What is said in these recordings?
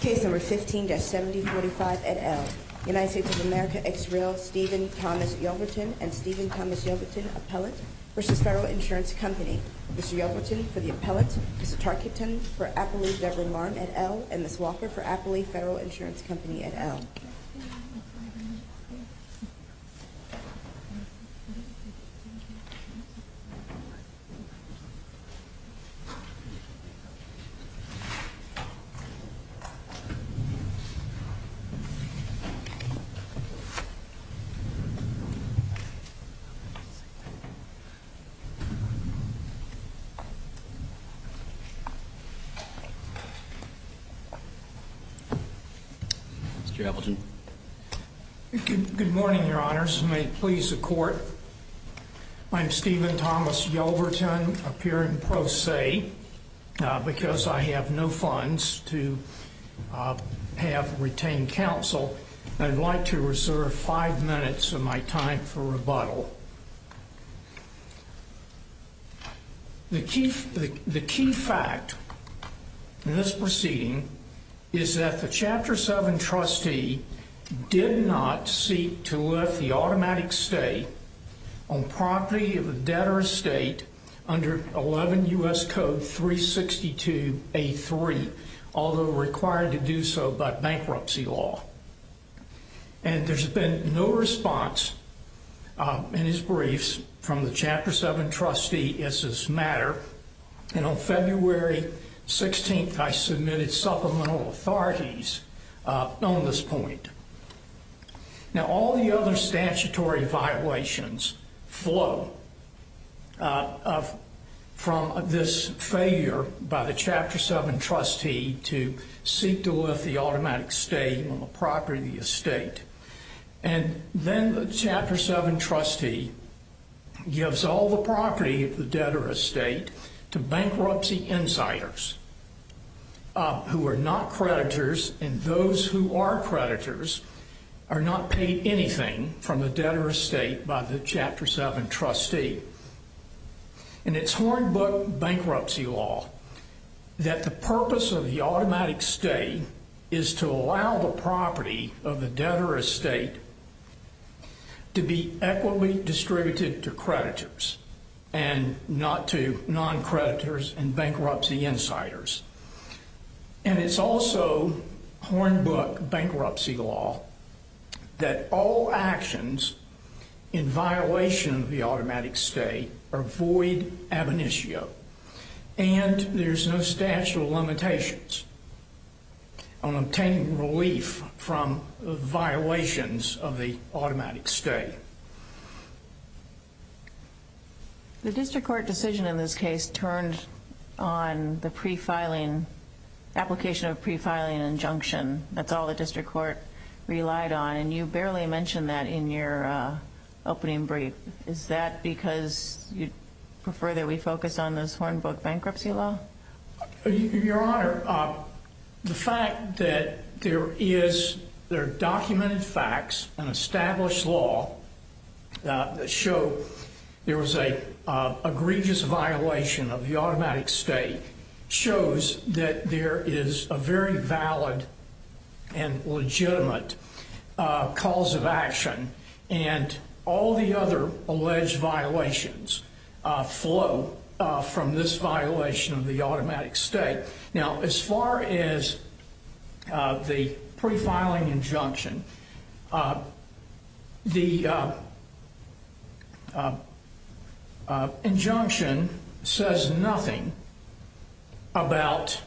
Case number 15-7045 et al. United States of America, Israel, Stephen Thomas Yelverton and Stephen Thomas Yelverton, appellate, v. Federal Insurance Company. Mr. Yelverton for the appellate, Ms. Tarkington for Appalooie Debra Marm et al. And Ms. Walker for Appalooie Federal Insurance Company et al. Mr. Yelverton. Good morning, your honors. I'm Stephen Thomas Yelverton, appearing pro se, because I have no funds to have retained counsel. I'd like to reserve five minutes of my time for rebuttal. The key fact in this proceeding is that the Chapter 7 trustee did not seek to lift the automatic stay on property of a debtor estate under 11 U.S. Code 362A3, although required to do so by bankruptcy law. And there's been no response in his briefs from the Chapter 7 trustee as to this matter. And on February 16th, I submitted supplemental authorities on this point. Now, all the other statutory violations flow from this failure by the Chapter 7 trustee to seek to lift the automatic stay on the property of the estate. And then the Chapter 7 trustee gives all the property of the debtor estate to bankruptcy insiders who are not creditors, and those who are creditors are not paid anything from the debtor estate by the Chapter 7 trustee. And it's Hornbook bankruptcy law that the purpose of the automatic stay is to allow the property of the debtor estate to be equitably distributed to creditors and not to non-creditors and bankruptcy insiders. And it's also Hornbook bankruptcy law that all actions in violation of the automatic stay are void ab initio, and there's no statute of limitations on obtaining relief from violations of the automatic stay. The district court decision in this case turned on the pre-filing, application of pre-filing injunction. That's all the district court relied on, and you barely mentioned that in your opening brief. Is that because you prefer that we focus on this Hornbook bankruptcy law? Your Honor, the fact that there are documented facts and established law that show there was an egregious violation of the automatic stay shows that there is a very valid and legitimate cause of action. And all the other alleged violations flow from this violation of the automatic stay. Now, as far as the pre-filing injunction, the injunction says nothing about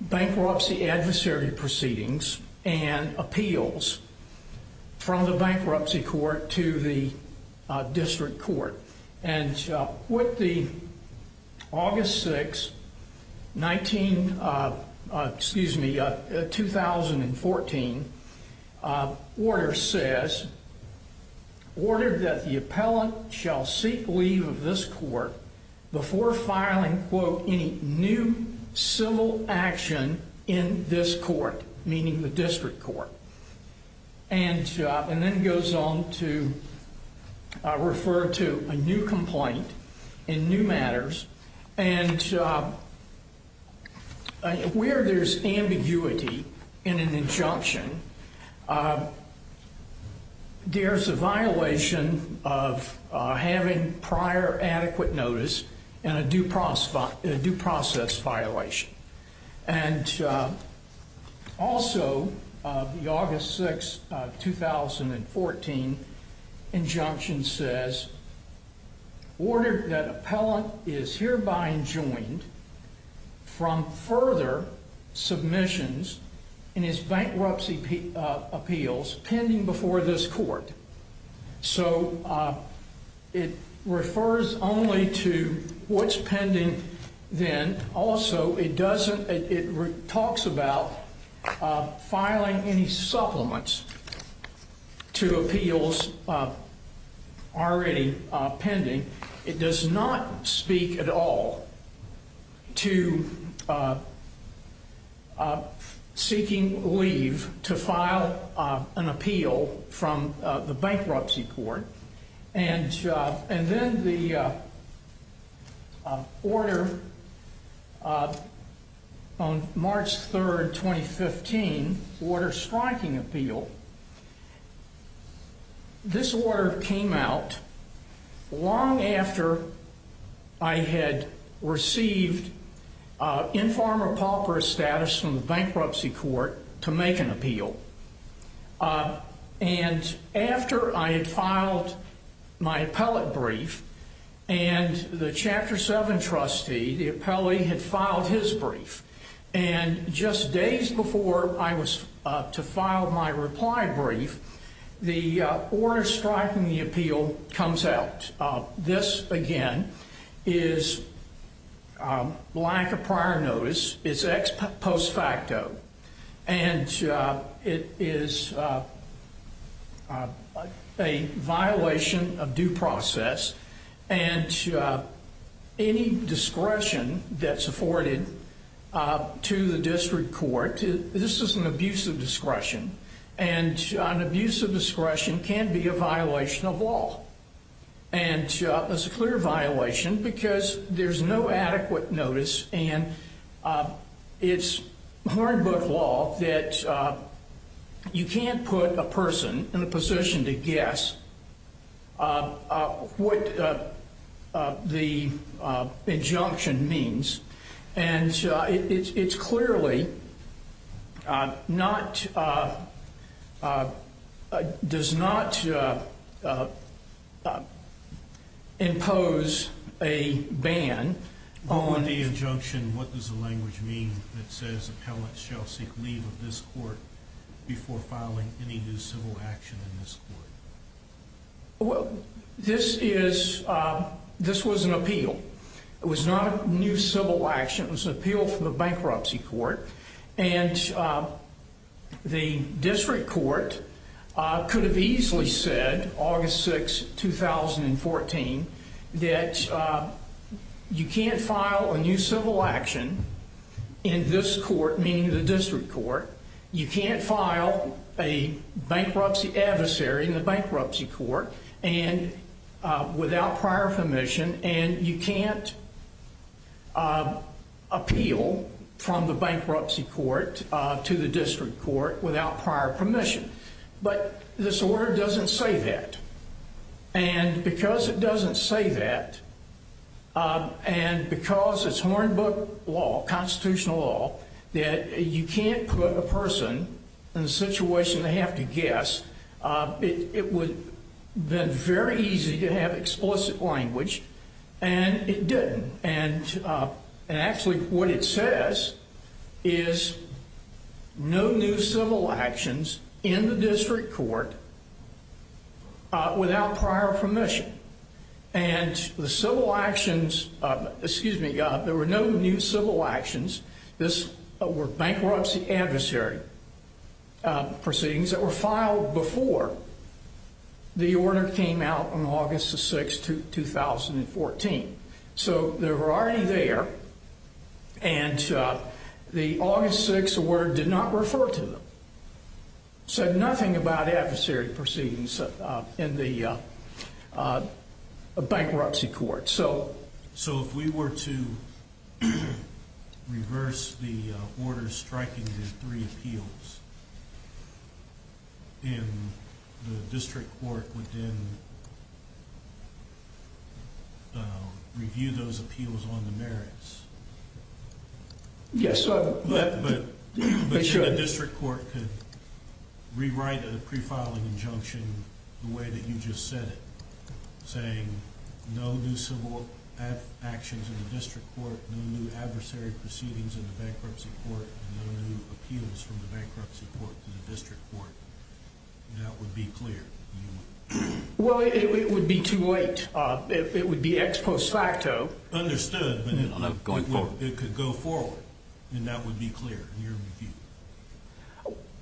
bankruptcy adversary proceedings and appeals from the bankruptcy court to the district court. And what the August 6, 2014 order says, ordered that the appellant shall seek leave of this court before filing, quote, any new civil action in this court, meaning the district court. And then it goes on to refer to a new complaint in new matters. And where there's ambiguity in an injunction, there's a violation of having prior adequate notice and a due process violation. And also, the August 6, 2014 injunction says order that appellant is hereby enjoined from further submissions in his bankruptcy appeals pending before this court. So it refers only to what's pending then. Also, it talks about filing any supplements to appeals already pending. It does not speak at all to seeking leave to file an appeal from the bankruptcy court. And then the order on March 3, 2015, order striking appeal. This order came out long after I had received informer pauper status from the bankruptcy court to make an appeal. And after I had filed my appellate brief, and the Chapter 7 trustee, the appellee, had filed his brief. And just days before I was to file my reply brief, the order striking the appeal comes out. This, again, is lack of prior notice. It's ex post facto. And it is a violation of due process. And any discretion that's afforded to the district court, this is an abuse of discretion. And an abuse of discretion can be a violation of law. And it's a clear violation because there's no adequate notice. And it's hard book law that you can't put a person in a position to guess what the injunction means. And it's clearly not, does not impose a ban on... What would the injunction, what does the language mean that says appellate shall seek leave of this court before filing any new civil action in this court? Well, this is, this was an appeal. It was not a new civil action. It was an appeal from the bankruptcy court. And the district court could have easily said, August 6, 2014, that you can't file a new civil action in this court, meaning the district court. You can't file a bankruptcy adversary in the bankruptcy court without prior permission. And you can't appeal from the bankruptcy court to the district court without prior permission. But this order doesn't say that. And because it doesn't say that, and because it's hard book law, constitutional law, that you can't put a person in a situation they have to guess, it would have been very easy to have explicit language, and it didn't. And actually what it says is no new civil actions in the district court without prior permission. And the civil actions, excuse me, there were no new civil actions. This were bankruptcy adversary proceedings that were filed before the order came out on August the 6th, 2014. So they were already there, and the August 6th order did not refer to them. Said nothing about adversary proceedings in the bankruptcy court. So if we were to reverse the order striking the three appeals, and the district court would then review those appeals on the merits? Yes. But the district court could rewrite a pre-filing injunction the way that you just said it, saying no new civil actions in the district court, no new adversary proceedings in the bankruptcy court, no new appeals from the bankruptcy court to the district court. That would be clear. Well, it would be too late. It would be ex post facto. Understood, but it could go forward. And that would be clear.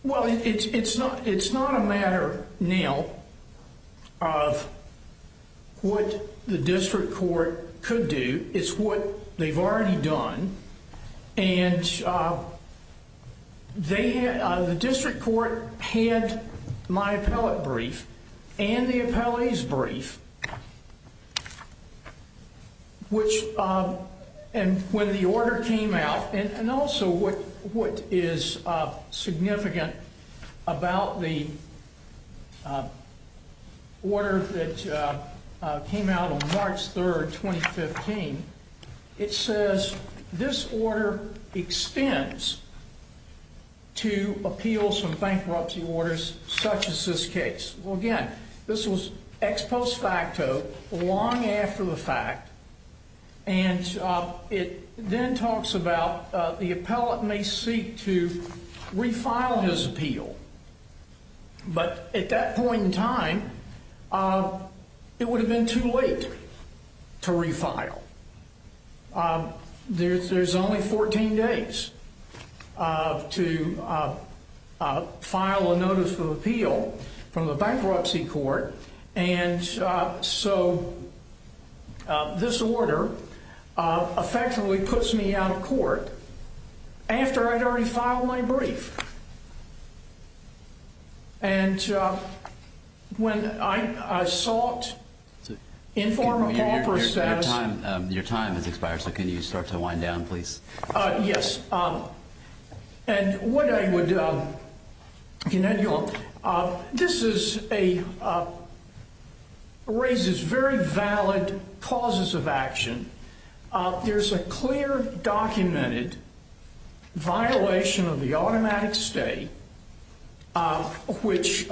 Well, it's not a matter now of what the district court could do. It's what they've already done. And the district court had my appellate brief and the appellee's brief, which when the order came out, and also what is significant about the order that came out on March 3rd, 2015, it says this order extends to appeals from bankruptcy orders such as this case. Well, again, this was ex post facto, long after the fact. And it then talks about the appellate may seek to refile his appeal. But at that point in time, it would have been too late to refile. There's only 14 days to file a notice of appeal from the bankruptcy court. And so this order effectively puts me out of court after I'd already filed my brief. And when I sought to inform a proper status. Your time has expired. So can you start to wind down, please? Yes. And what I would, you know, this is a raises very valid causes of action. There's a clear documented violation of the automatic stay, which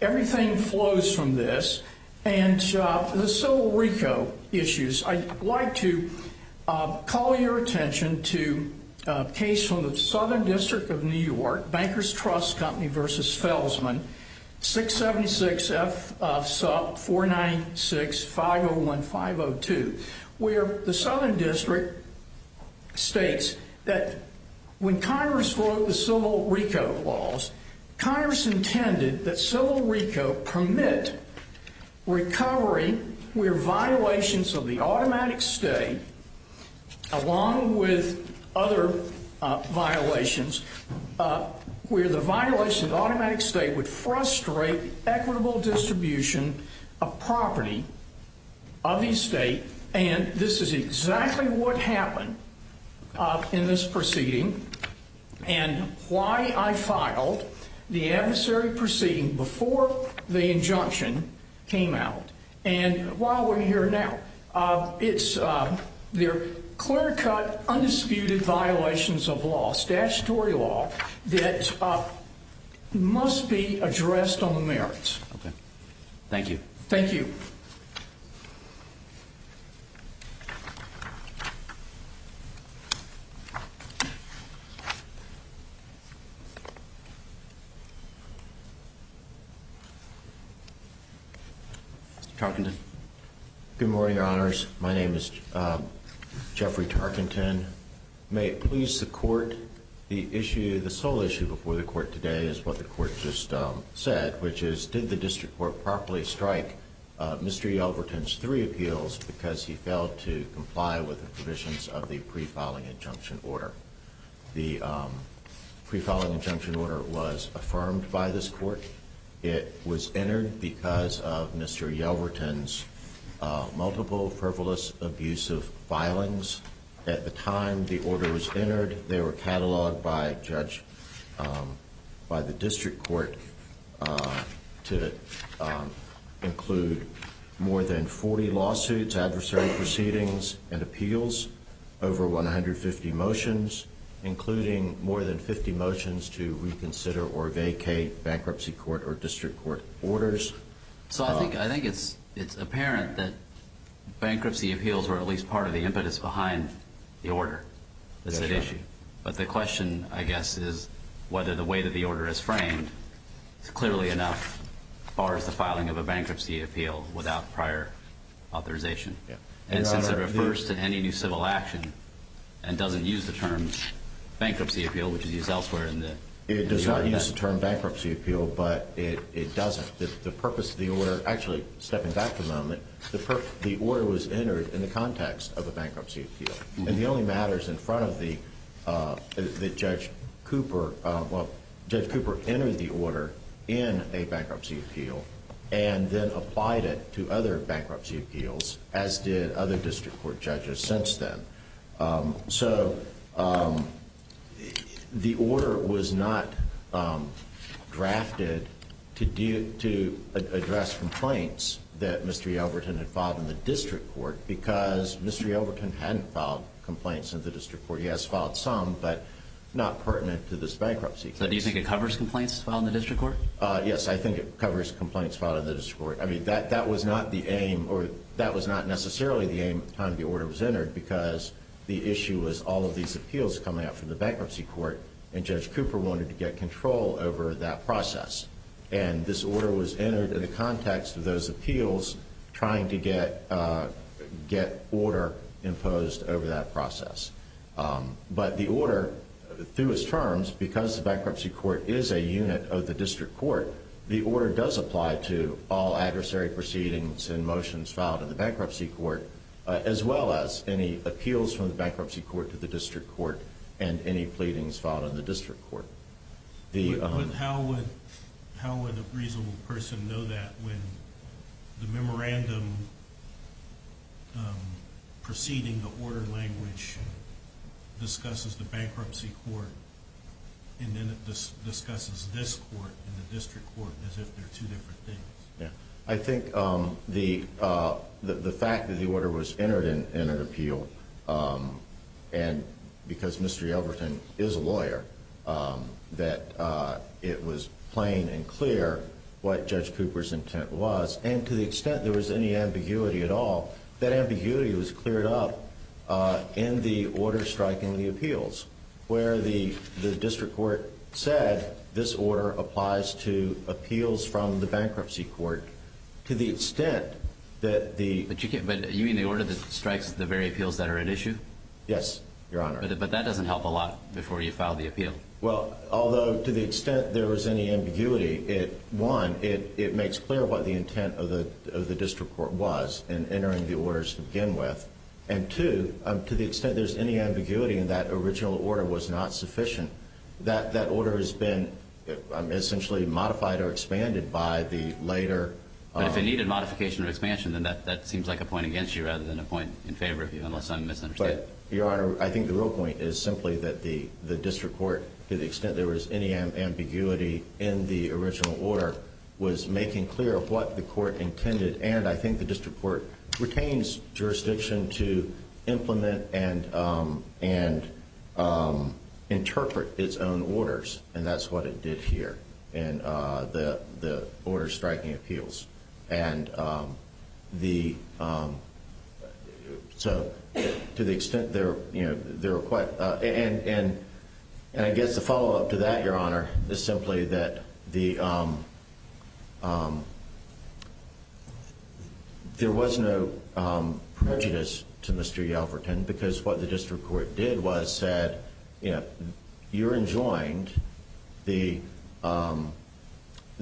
everything flows from this. And so Rico issues, I'd like to call your attention to a case from the Southern District of New York, Bankers Trust Company versus Felsman 676F496501502, where the Southern District states that when Congress wrote the civil Rico laws, Congress intended that civil Rico permit recovery where violations of the automatic stay, along with other violations where the violation automatic state would frustrate equitable distribution of property of the state. And this is exactly what happened in this proceeding. And why I filed the adversary proceeding before the injunction came out. And while we're here now, it's their clear cut, undisputed violations of law, statutory law that must be addressed on the merits. Thank you. Thank you. Mr. Tarkenton. Good morning, your honors. My name is Jeffrey Tarkenton. May it please the court. The issue, the sole issue before the court today is what the court just said, which is did the district court properly strike Mr. Yelverton's three appeals because he failed to comply with the provisions of the pre-filing injunction order. The pre-filing injunction order was affirmed by this court. It was entered because of Mr. Yelverton's multiple frivolous abusive filings. They were cataloged by the district court to include more than 40 lawsuits, adversary proceedings, and appeals, over 150 motions, including more than 50 motions to reconsider or vacate bankruptcy court or district court orders. So I think it's apparent that bankruptcy appeals are at least part of the impetus behind the order that's at issue. But the question, I guess, is whether the way that the order is framed is clearly enough, as far as the filing of a bankruptcy appeal without prior authorization. And since it refers to any new civil action and doesn't use the term bankruptcy appeal, which is used elsewhere. It does not use the term bankruptcy appeal, but it doesn't. The purpose of the order, actually stepping back a moment, the order was entered in the context of a bankruptcy appeal. And the only matters in front of the Judge Cooper, well, Judge Cooper entered the order in a bankruptcy appeal and then applied it to other bankruptcy appeals, as did other district court judges since then. So the order was not drafted to address complaints that Mr. Yelverton had filed in the district court because Mr. Yelverton hadn't filed complaints in the district court. He has filed some, but not pertinent to this bankruptcy case. So do you think it covers complaints filed in the district court? Yes, I think it covers complaints filed in the district court. I mean, that was not the aim, or that was not necessarily the aim at the time the order was entered because the issue was all of these appeals coming out from the bankruptcy court and Judge Cooper wanted to get control over that process. And this order was entered in the context of those appeals trying to get order imposed over that process. But the order, through its terms, because the bankruptcy court is a unit of the district court, the order does apply to all adversary proceedings and motions filed in the bankruptcy court, as well as any appeals from the bankruptcy court to the district court and any pleadings filed in the district court. How would a reasonable person know that when the memorandum preceding the order language discusses the bankruptcy court and then it discusses this court and the district court as if they're two different things? I think the fact that the order was entered in an appeal, and because Mr. Yelverton is a lawyer, that it was plain and clear what Judge Cooper's intent was, and to the extent there was any ambiguity at all, that ambiguity was cleared up in the order striking the appeals where the district court said this order applies to appeals from the bankruptcy court to the extent that the... But you mean the order that strikes the very appeals that are at issue? Yes, Your Honor. But that doesn't help a lot before you file the appeal. Well, although to the extent there was any ambiguity, one, it makes clear what the intent of the district court was in entering the orders to begin with, and two, to the extent there's any ambiguity in that original order was not sufficient. That order has been essentially modified or expanded by the later... But if it needed modification or expansion, then that seems like a point against you rather than a point in favor of you, unless I'm misunderstanding. But, Your Honor, I think the real point is simply that the district court, to the extent there was any ambiguity in the original order, was making clear what the court intended, and I think the district court retains jurisdiction to implement and interpret its own orders, and that's what it did here in the order striking appeals. And so to the extent there were quite... And I guess the follow-up to that, Your Honor, is simply that there was no prejudice to Mr. Yelverton because what the district court did was said, You're enjoined.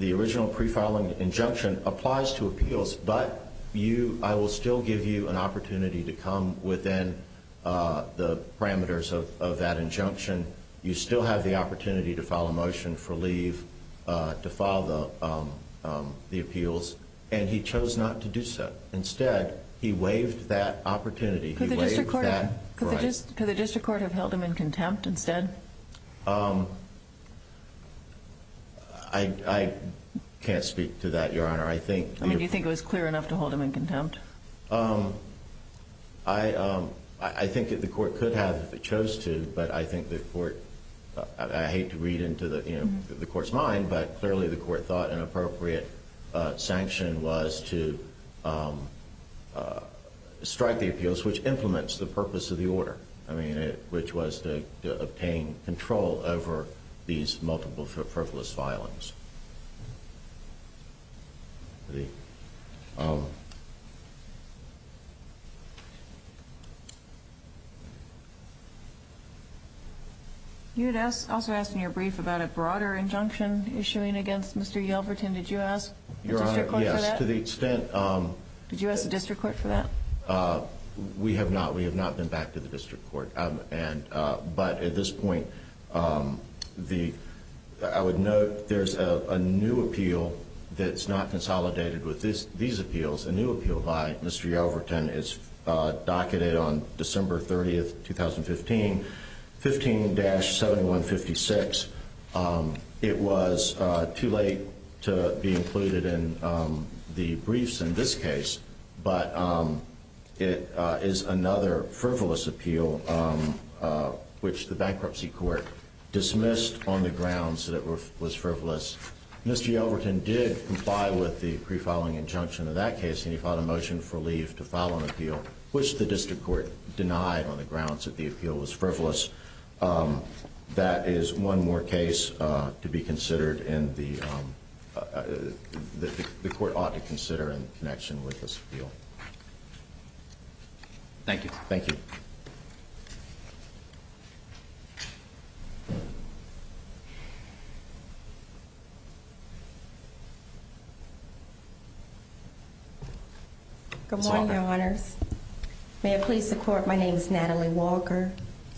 The original pre-filing injunction applies to appeals, but I will still give you an opportunity to come within the parameters of that injunction. You still have the opportunity to file a motion for leave to file the appeals, and he chose not to do so. Instead, he waived that opportunity. Could the district court have held him in contempt instead? I can't speak to that, Your Honor. I mean, do you think it was clear enough to hold him in contempt? I think the court could have if it chose to, but I hate to read into the court's mind, but clearly the court thought an appropriate sanction was to strike the appeals, which implements the purpose of the order, which was to obtain control over these multiple frivolous filings. You had also asked in your brief about a broader injunction issuing against Mr. Yelverton. Did you ask the district court for that? Yes, to the extent... Did you ask the district court for that? We have not. We have not been back to the district court, but at this point I would note there's a new appeal that's not consolidated with these appeals. A new appeal by Mr. Yelverton is docketed on December 30th, 2015, 15-7156. It was too late to be included in the briefs in this case, but it is another frivolous appeal which the bankruptcy court dismissed on the grounds that it was frivolous. Mr. Yelverton did comply with the pre-filing injunction of that case, and he filed a motion for leave to file an appeal, which the district court denied on the grounds that the appeal was frivolous. That is one more case to be considered and the court ought to consider in connection with this appeal. Thank you. Thank you. Good morning, Your Honors. May I please support? My name is Natalie Walker,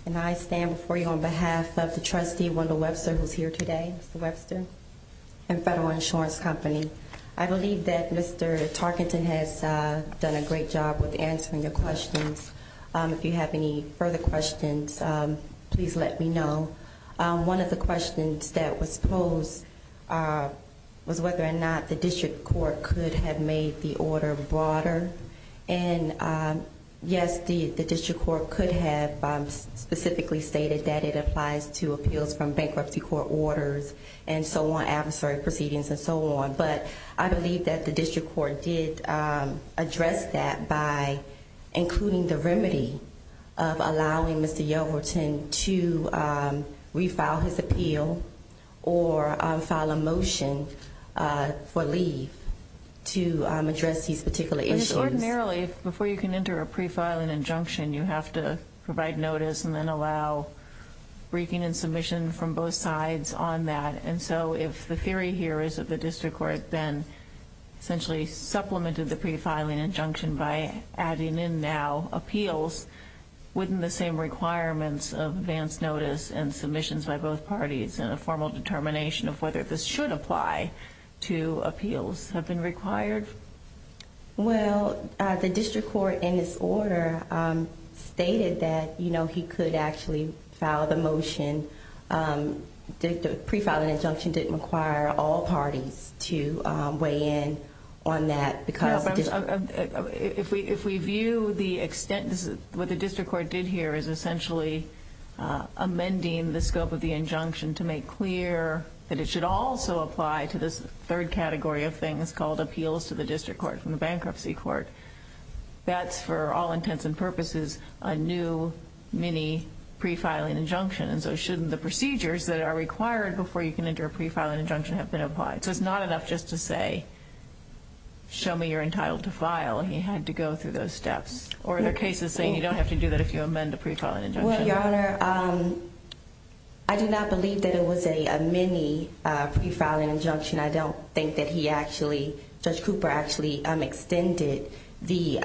and I stand before you on behalf of the trustee, Wendell Webster, who's here today, Mr. Webster, and Federal Insurance Company. I believe that Mr. Tarkenton has done a great job with answering your questions. If you have any further questions, please let me know. One of the questions that was posed was whether or not the district court could have made the order broader, and yes, the district court could have specifically stated that it applies to appeals from bankruptcy court orders and so on, adversary proceedings and so on, but I believe that the district court did address that by including the remedy of allowing Mr. Yelverton to refile his appeal or file a motion for leave to address these particular issues. But it's ordinarily, before you can enter a prefiling injunction, you have to provide notice and then allow briefing and submission from both sides on that, and so if the theory here is that the district court then essentially supplemented the prefiling injunction by adding in now appeals, wouldn't the same requirements of advance notice and submissions by both parties and a formal determination of whether this should apply to appeals have been required? Well, the district court, in its order, stated that he could actually file the motion. The prefiling injunction didn't require all parties to weigh in on that because the district court... that it should also apply to this third category of things called appeals to the district court from the bankruptcy court. That's, for all intents and purposes, a new mini-prefiling injunction, and so shouldn't the procedures that are required before you can enter a prefiling injunction have been applied? So it's not enough just to say, show me you're entitled to file. He had to go through those steps. Or are there cases saying you don't have to do that if you amend a prefiling injunction? Well, Your Honor, I do not believe that it was a mini-prefiling injunction. I don't think that he actually, Judge Cooper actually extended the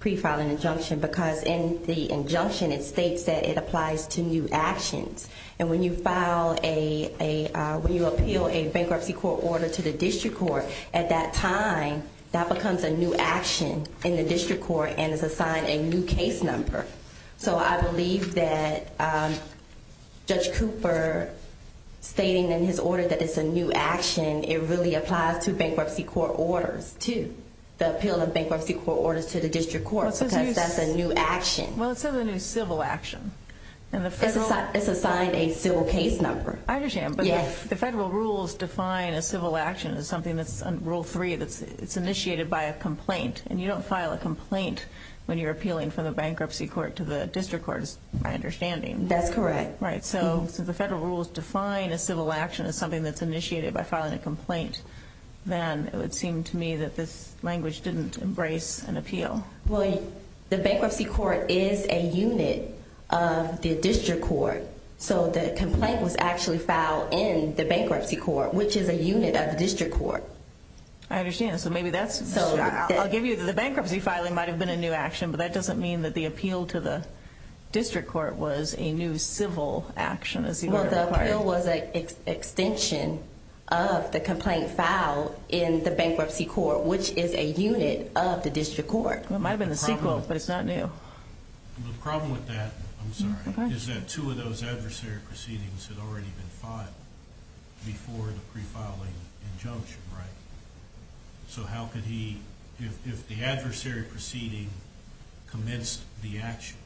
prefiling injunction because in the injunction it states that it applies to new actions. And when you file a, when you appeal a bankruptcy court order to the district court, at that time that becomes a new action in the district court and is assigned a new case number. So I believe that Judge Cooper stating in his order that it's a new action, it really applies to bankruptcy court orders too, the appeal of bankruptcy court orders to the district court, because that's a new action. Well, it says a new civil action. It's assigned a civil case number. I understand, but the federal rules define a civil action as something that's, Rule 3, it's initiated by a complaint, and you don't file a complaint when you're appealing from the bankruptcy court to the district court, is my understanding. That's correct. Right. So since the federal rules define a civil action as something that's initiated by filing a complaint, then it would seem to me that this language didn't embrace an appeal. Well, the bankruptcy court is a unit of the district court, so the complaint was actually filed in the bankruptcy court, which is a unit of the district court. I understand. I'll give you the bankruptcy filing might have been a new action, but that doesn't mean that the appeal to the district court was a new civil action. Well, the appeal was an extension of the complaint filed in the bankruptcy court, which is a unit of the district court. It might have been the sequel, but it's not new. The problem with that, I'm sorry, is that two of those adversary proceedings had already been filed before the prefiling injunction, right? So how could he, if the adversary proceeding commenced the action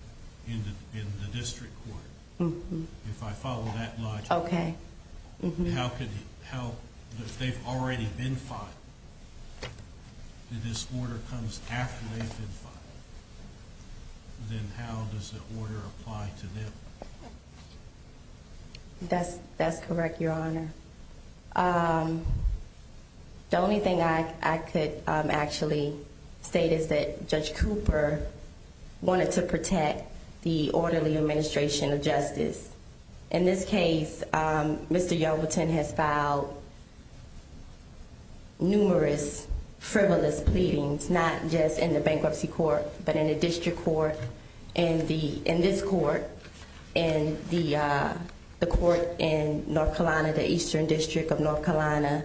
in the district court, if I follow that logic, if they've already been filed and this order comes after they've been filed, then how does the order apply to them? That's correct, Your Honor. The only thing I could actually state is that Judge Cooper wanted to protect the orderly administration of justice. In this case, Mr. Yelverton has filed numerous frivolous pleadings, not just in the bankruptcy court, but in the district court, in this court, in the court in North Carolina, the Eastern District of North Carolina,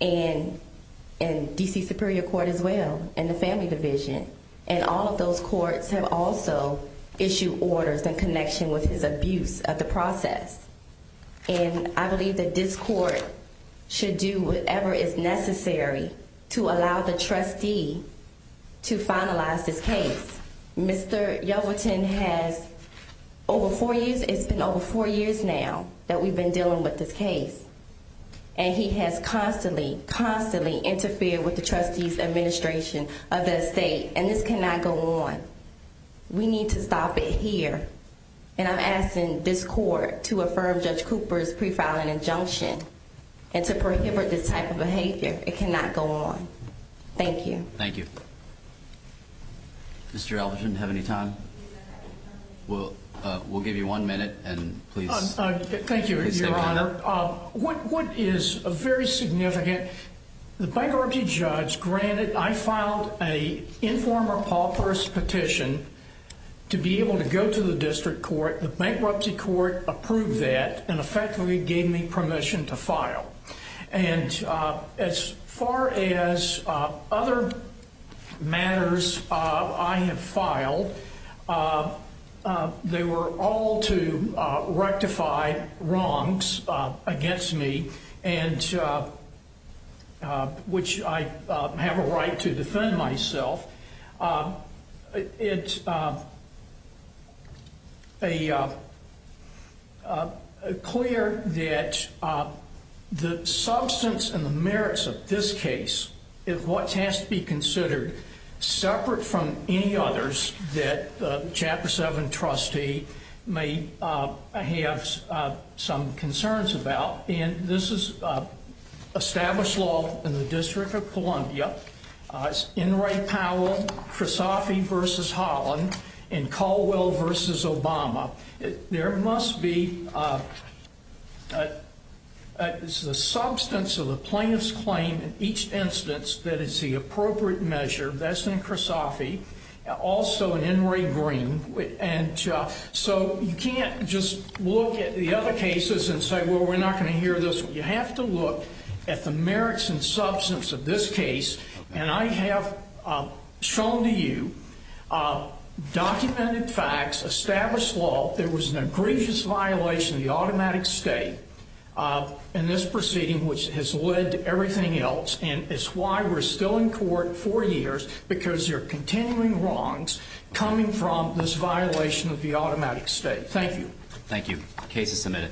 and D.C. Superior Court as well, and the family division. And all of those courts have also issued orders in connection with his abuse of the process. And I believe that this court should do whatever is necessary to allow the trustee to finalize this case. Mr. Yelverton has, over four years, it's been over four years now that we've been dealing with this case. And he has constantly, constantly interfered with the trustee's administration of the estate. And this cannot go on. We need to stop it here. And I'm asking this court to affirm Judge Cooper's prefiling injunction and to prohibit this type of behavior. It cannot go on. Thank you. Thank you. Mr. Yelverton, do you have any time? We'll give you one minute, and please. Thank you, Your Honor. What is very significant, the bankruptcy judge granted, I filed an informer Paul Purce petition to be able to go to the district court. The bankruptcy court approved that and effectively gave me permission to file. And as far as other matters I have filed, they were all to rectify wrongs against me, which I have a right to defend myself. It's clear that the substance and the merits of this case is what has to be considered, separate from any others that the Chapter 7 trustee may have some concerns about. And this is established law in the District of Columbia. It's Enright Powell, Krasoffi v. Holland, and Caldwell v. Obama. There must be the substance of the plaintiff's claim in each instance that is the appropriate measure. That's in Krasoffi, also in Enright Green. And so you can't just look at the other cases and say, well, we're not going to hear this. You have to look at the merits and substance of this case. And I have shown to you documented facts, established law. There was an egregious violation of the automatic state in this proceeding, which has led to everything else. And it's why we're still in court for years, because there are continuing wrongs coming from this violation of the automatic state. Thank you. Thank you. Case is submitted.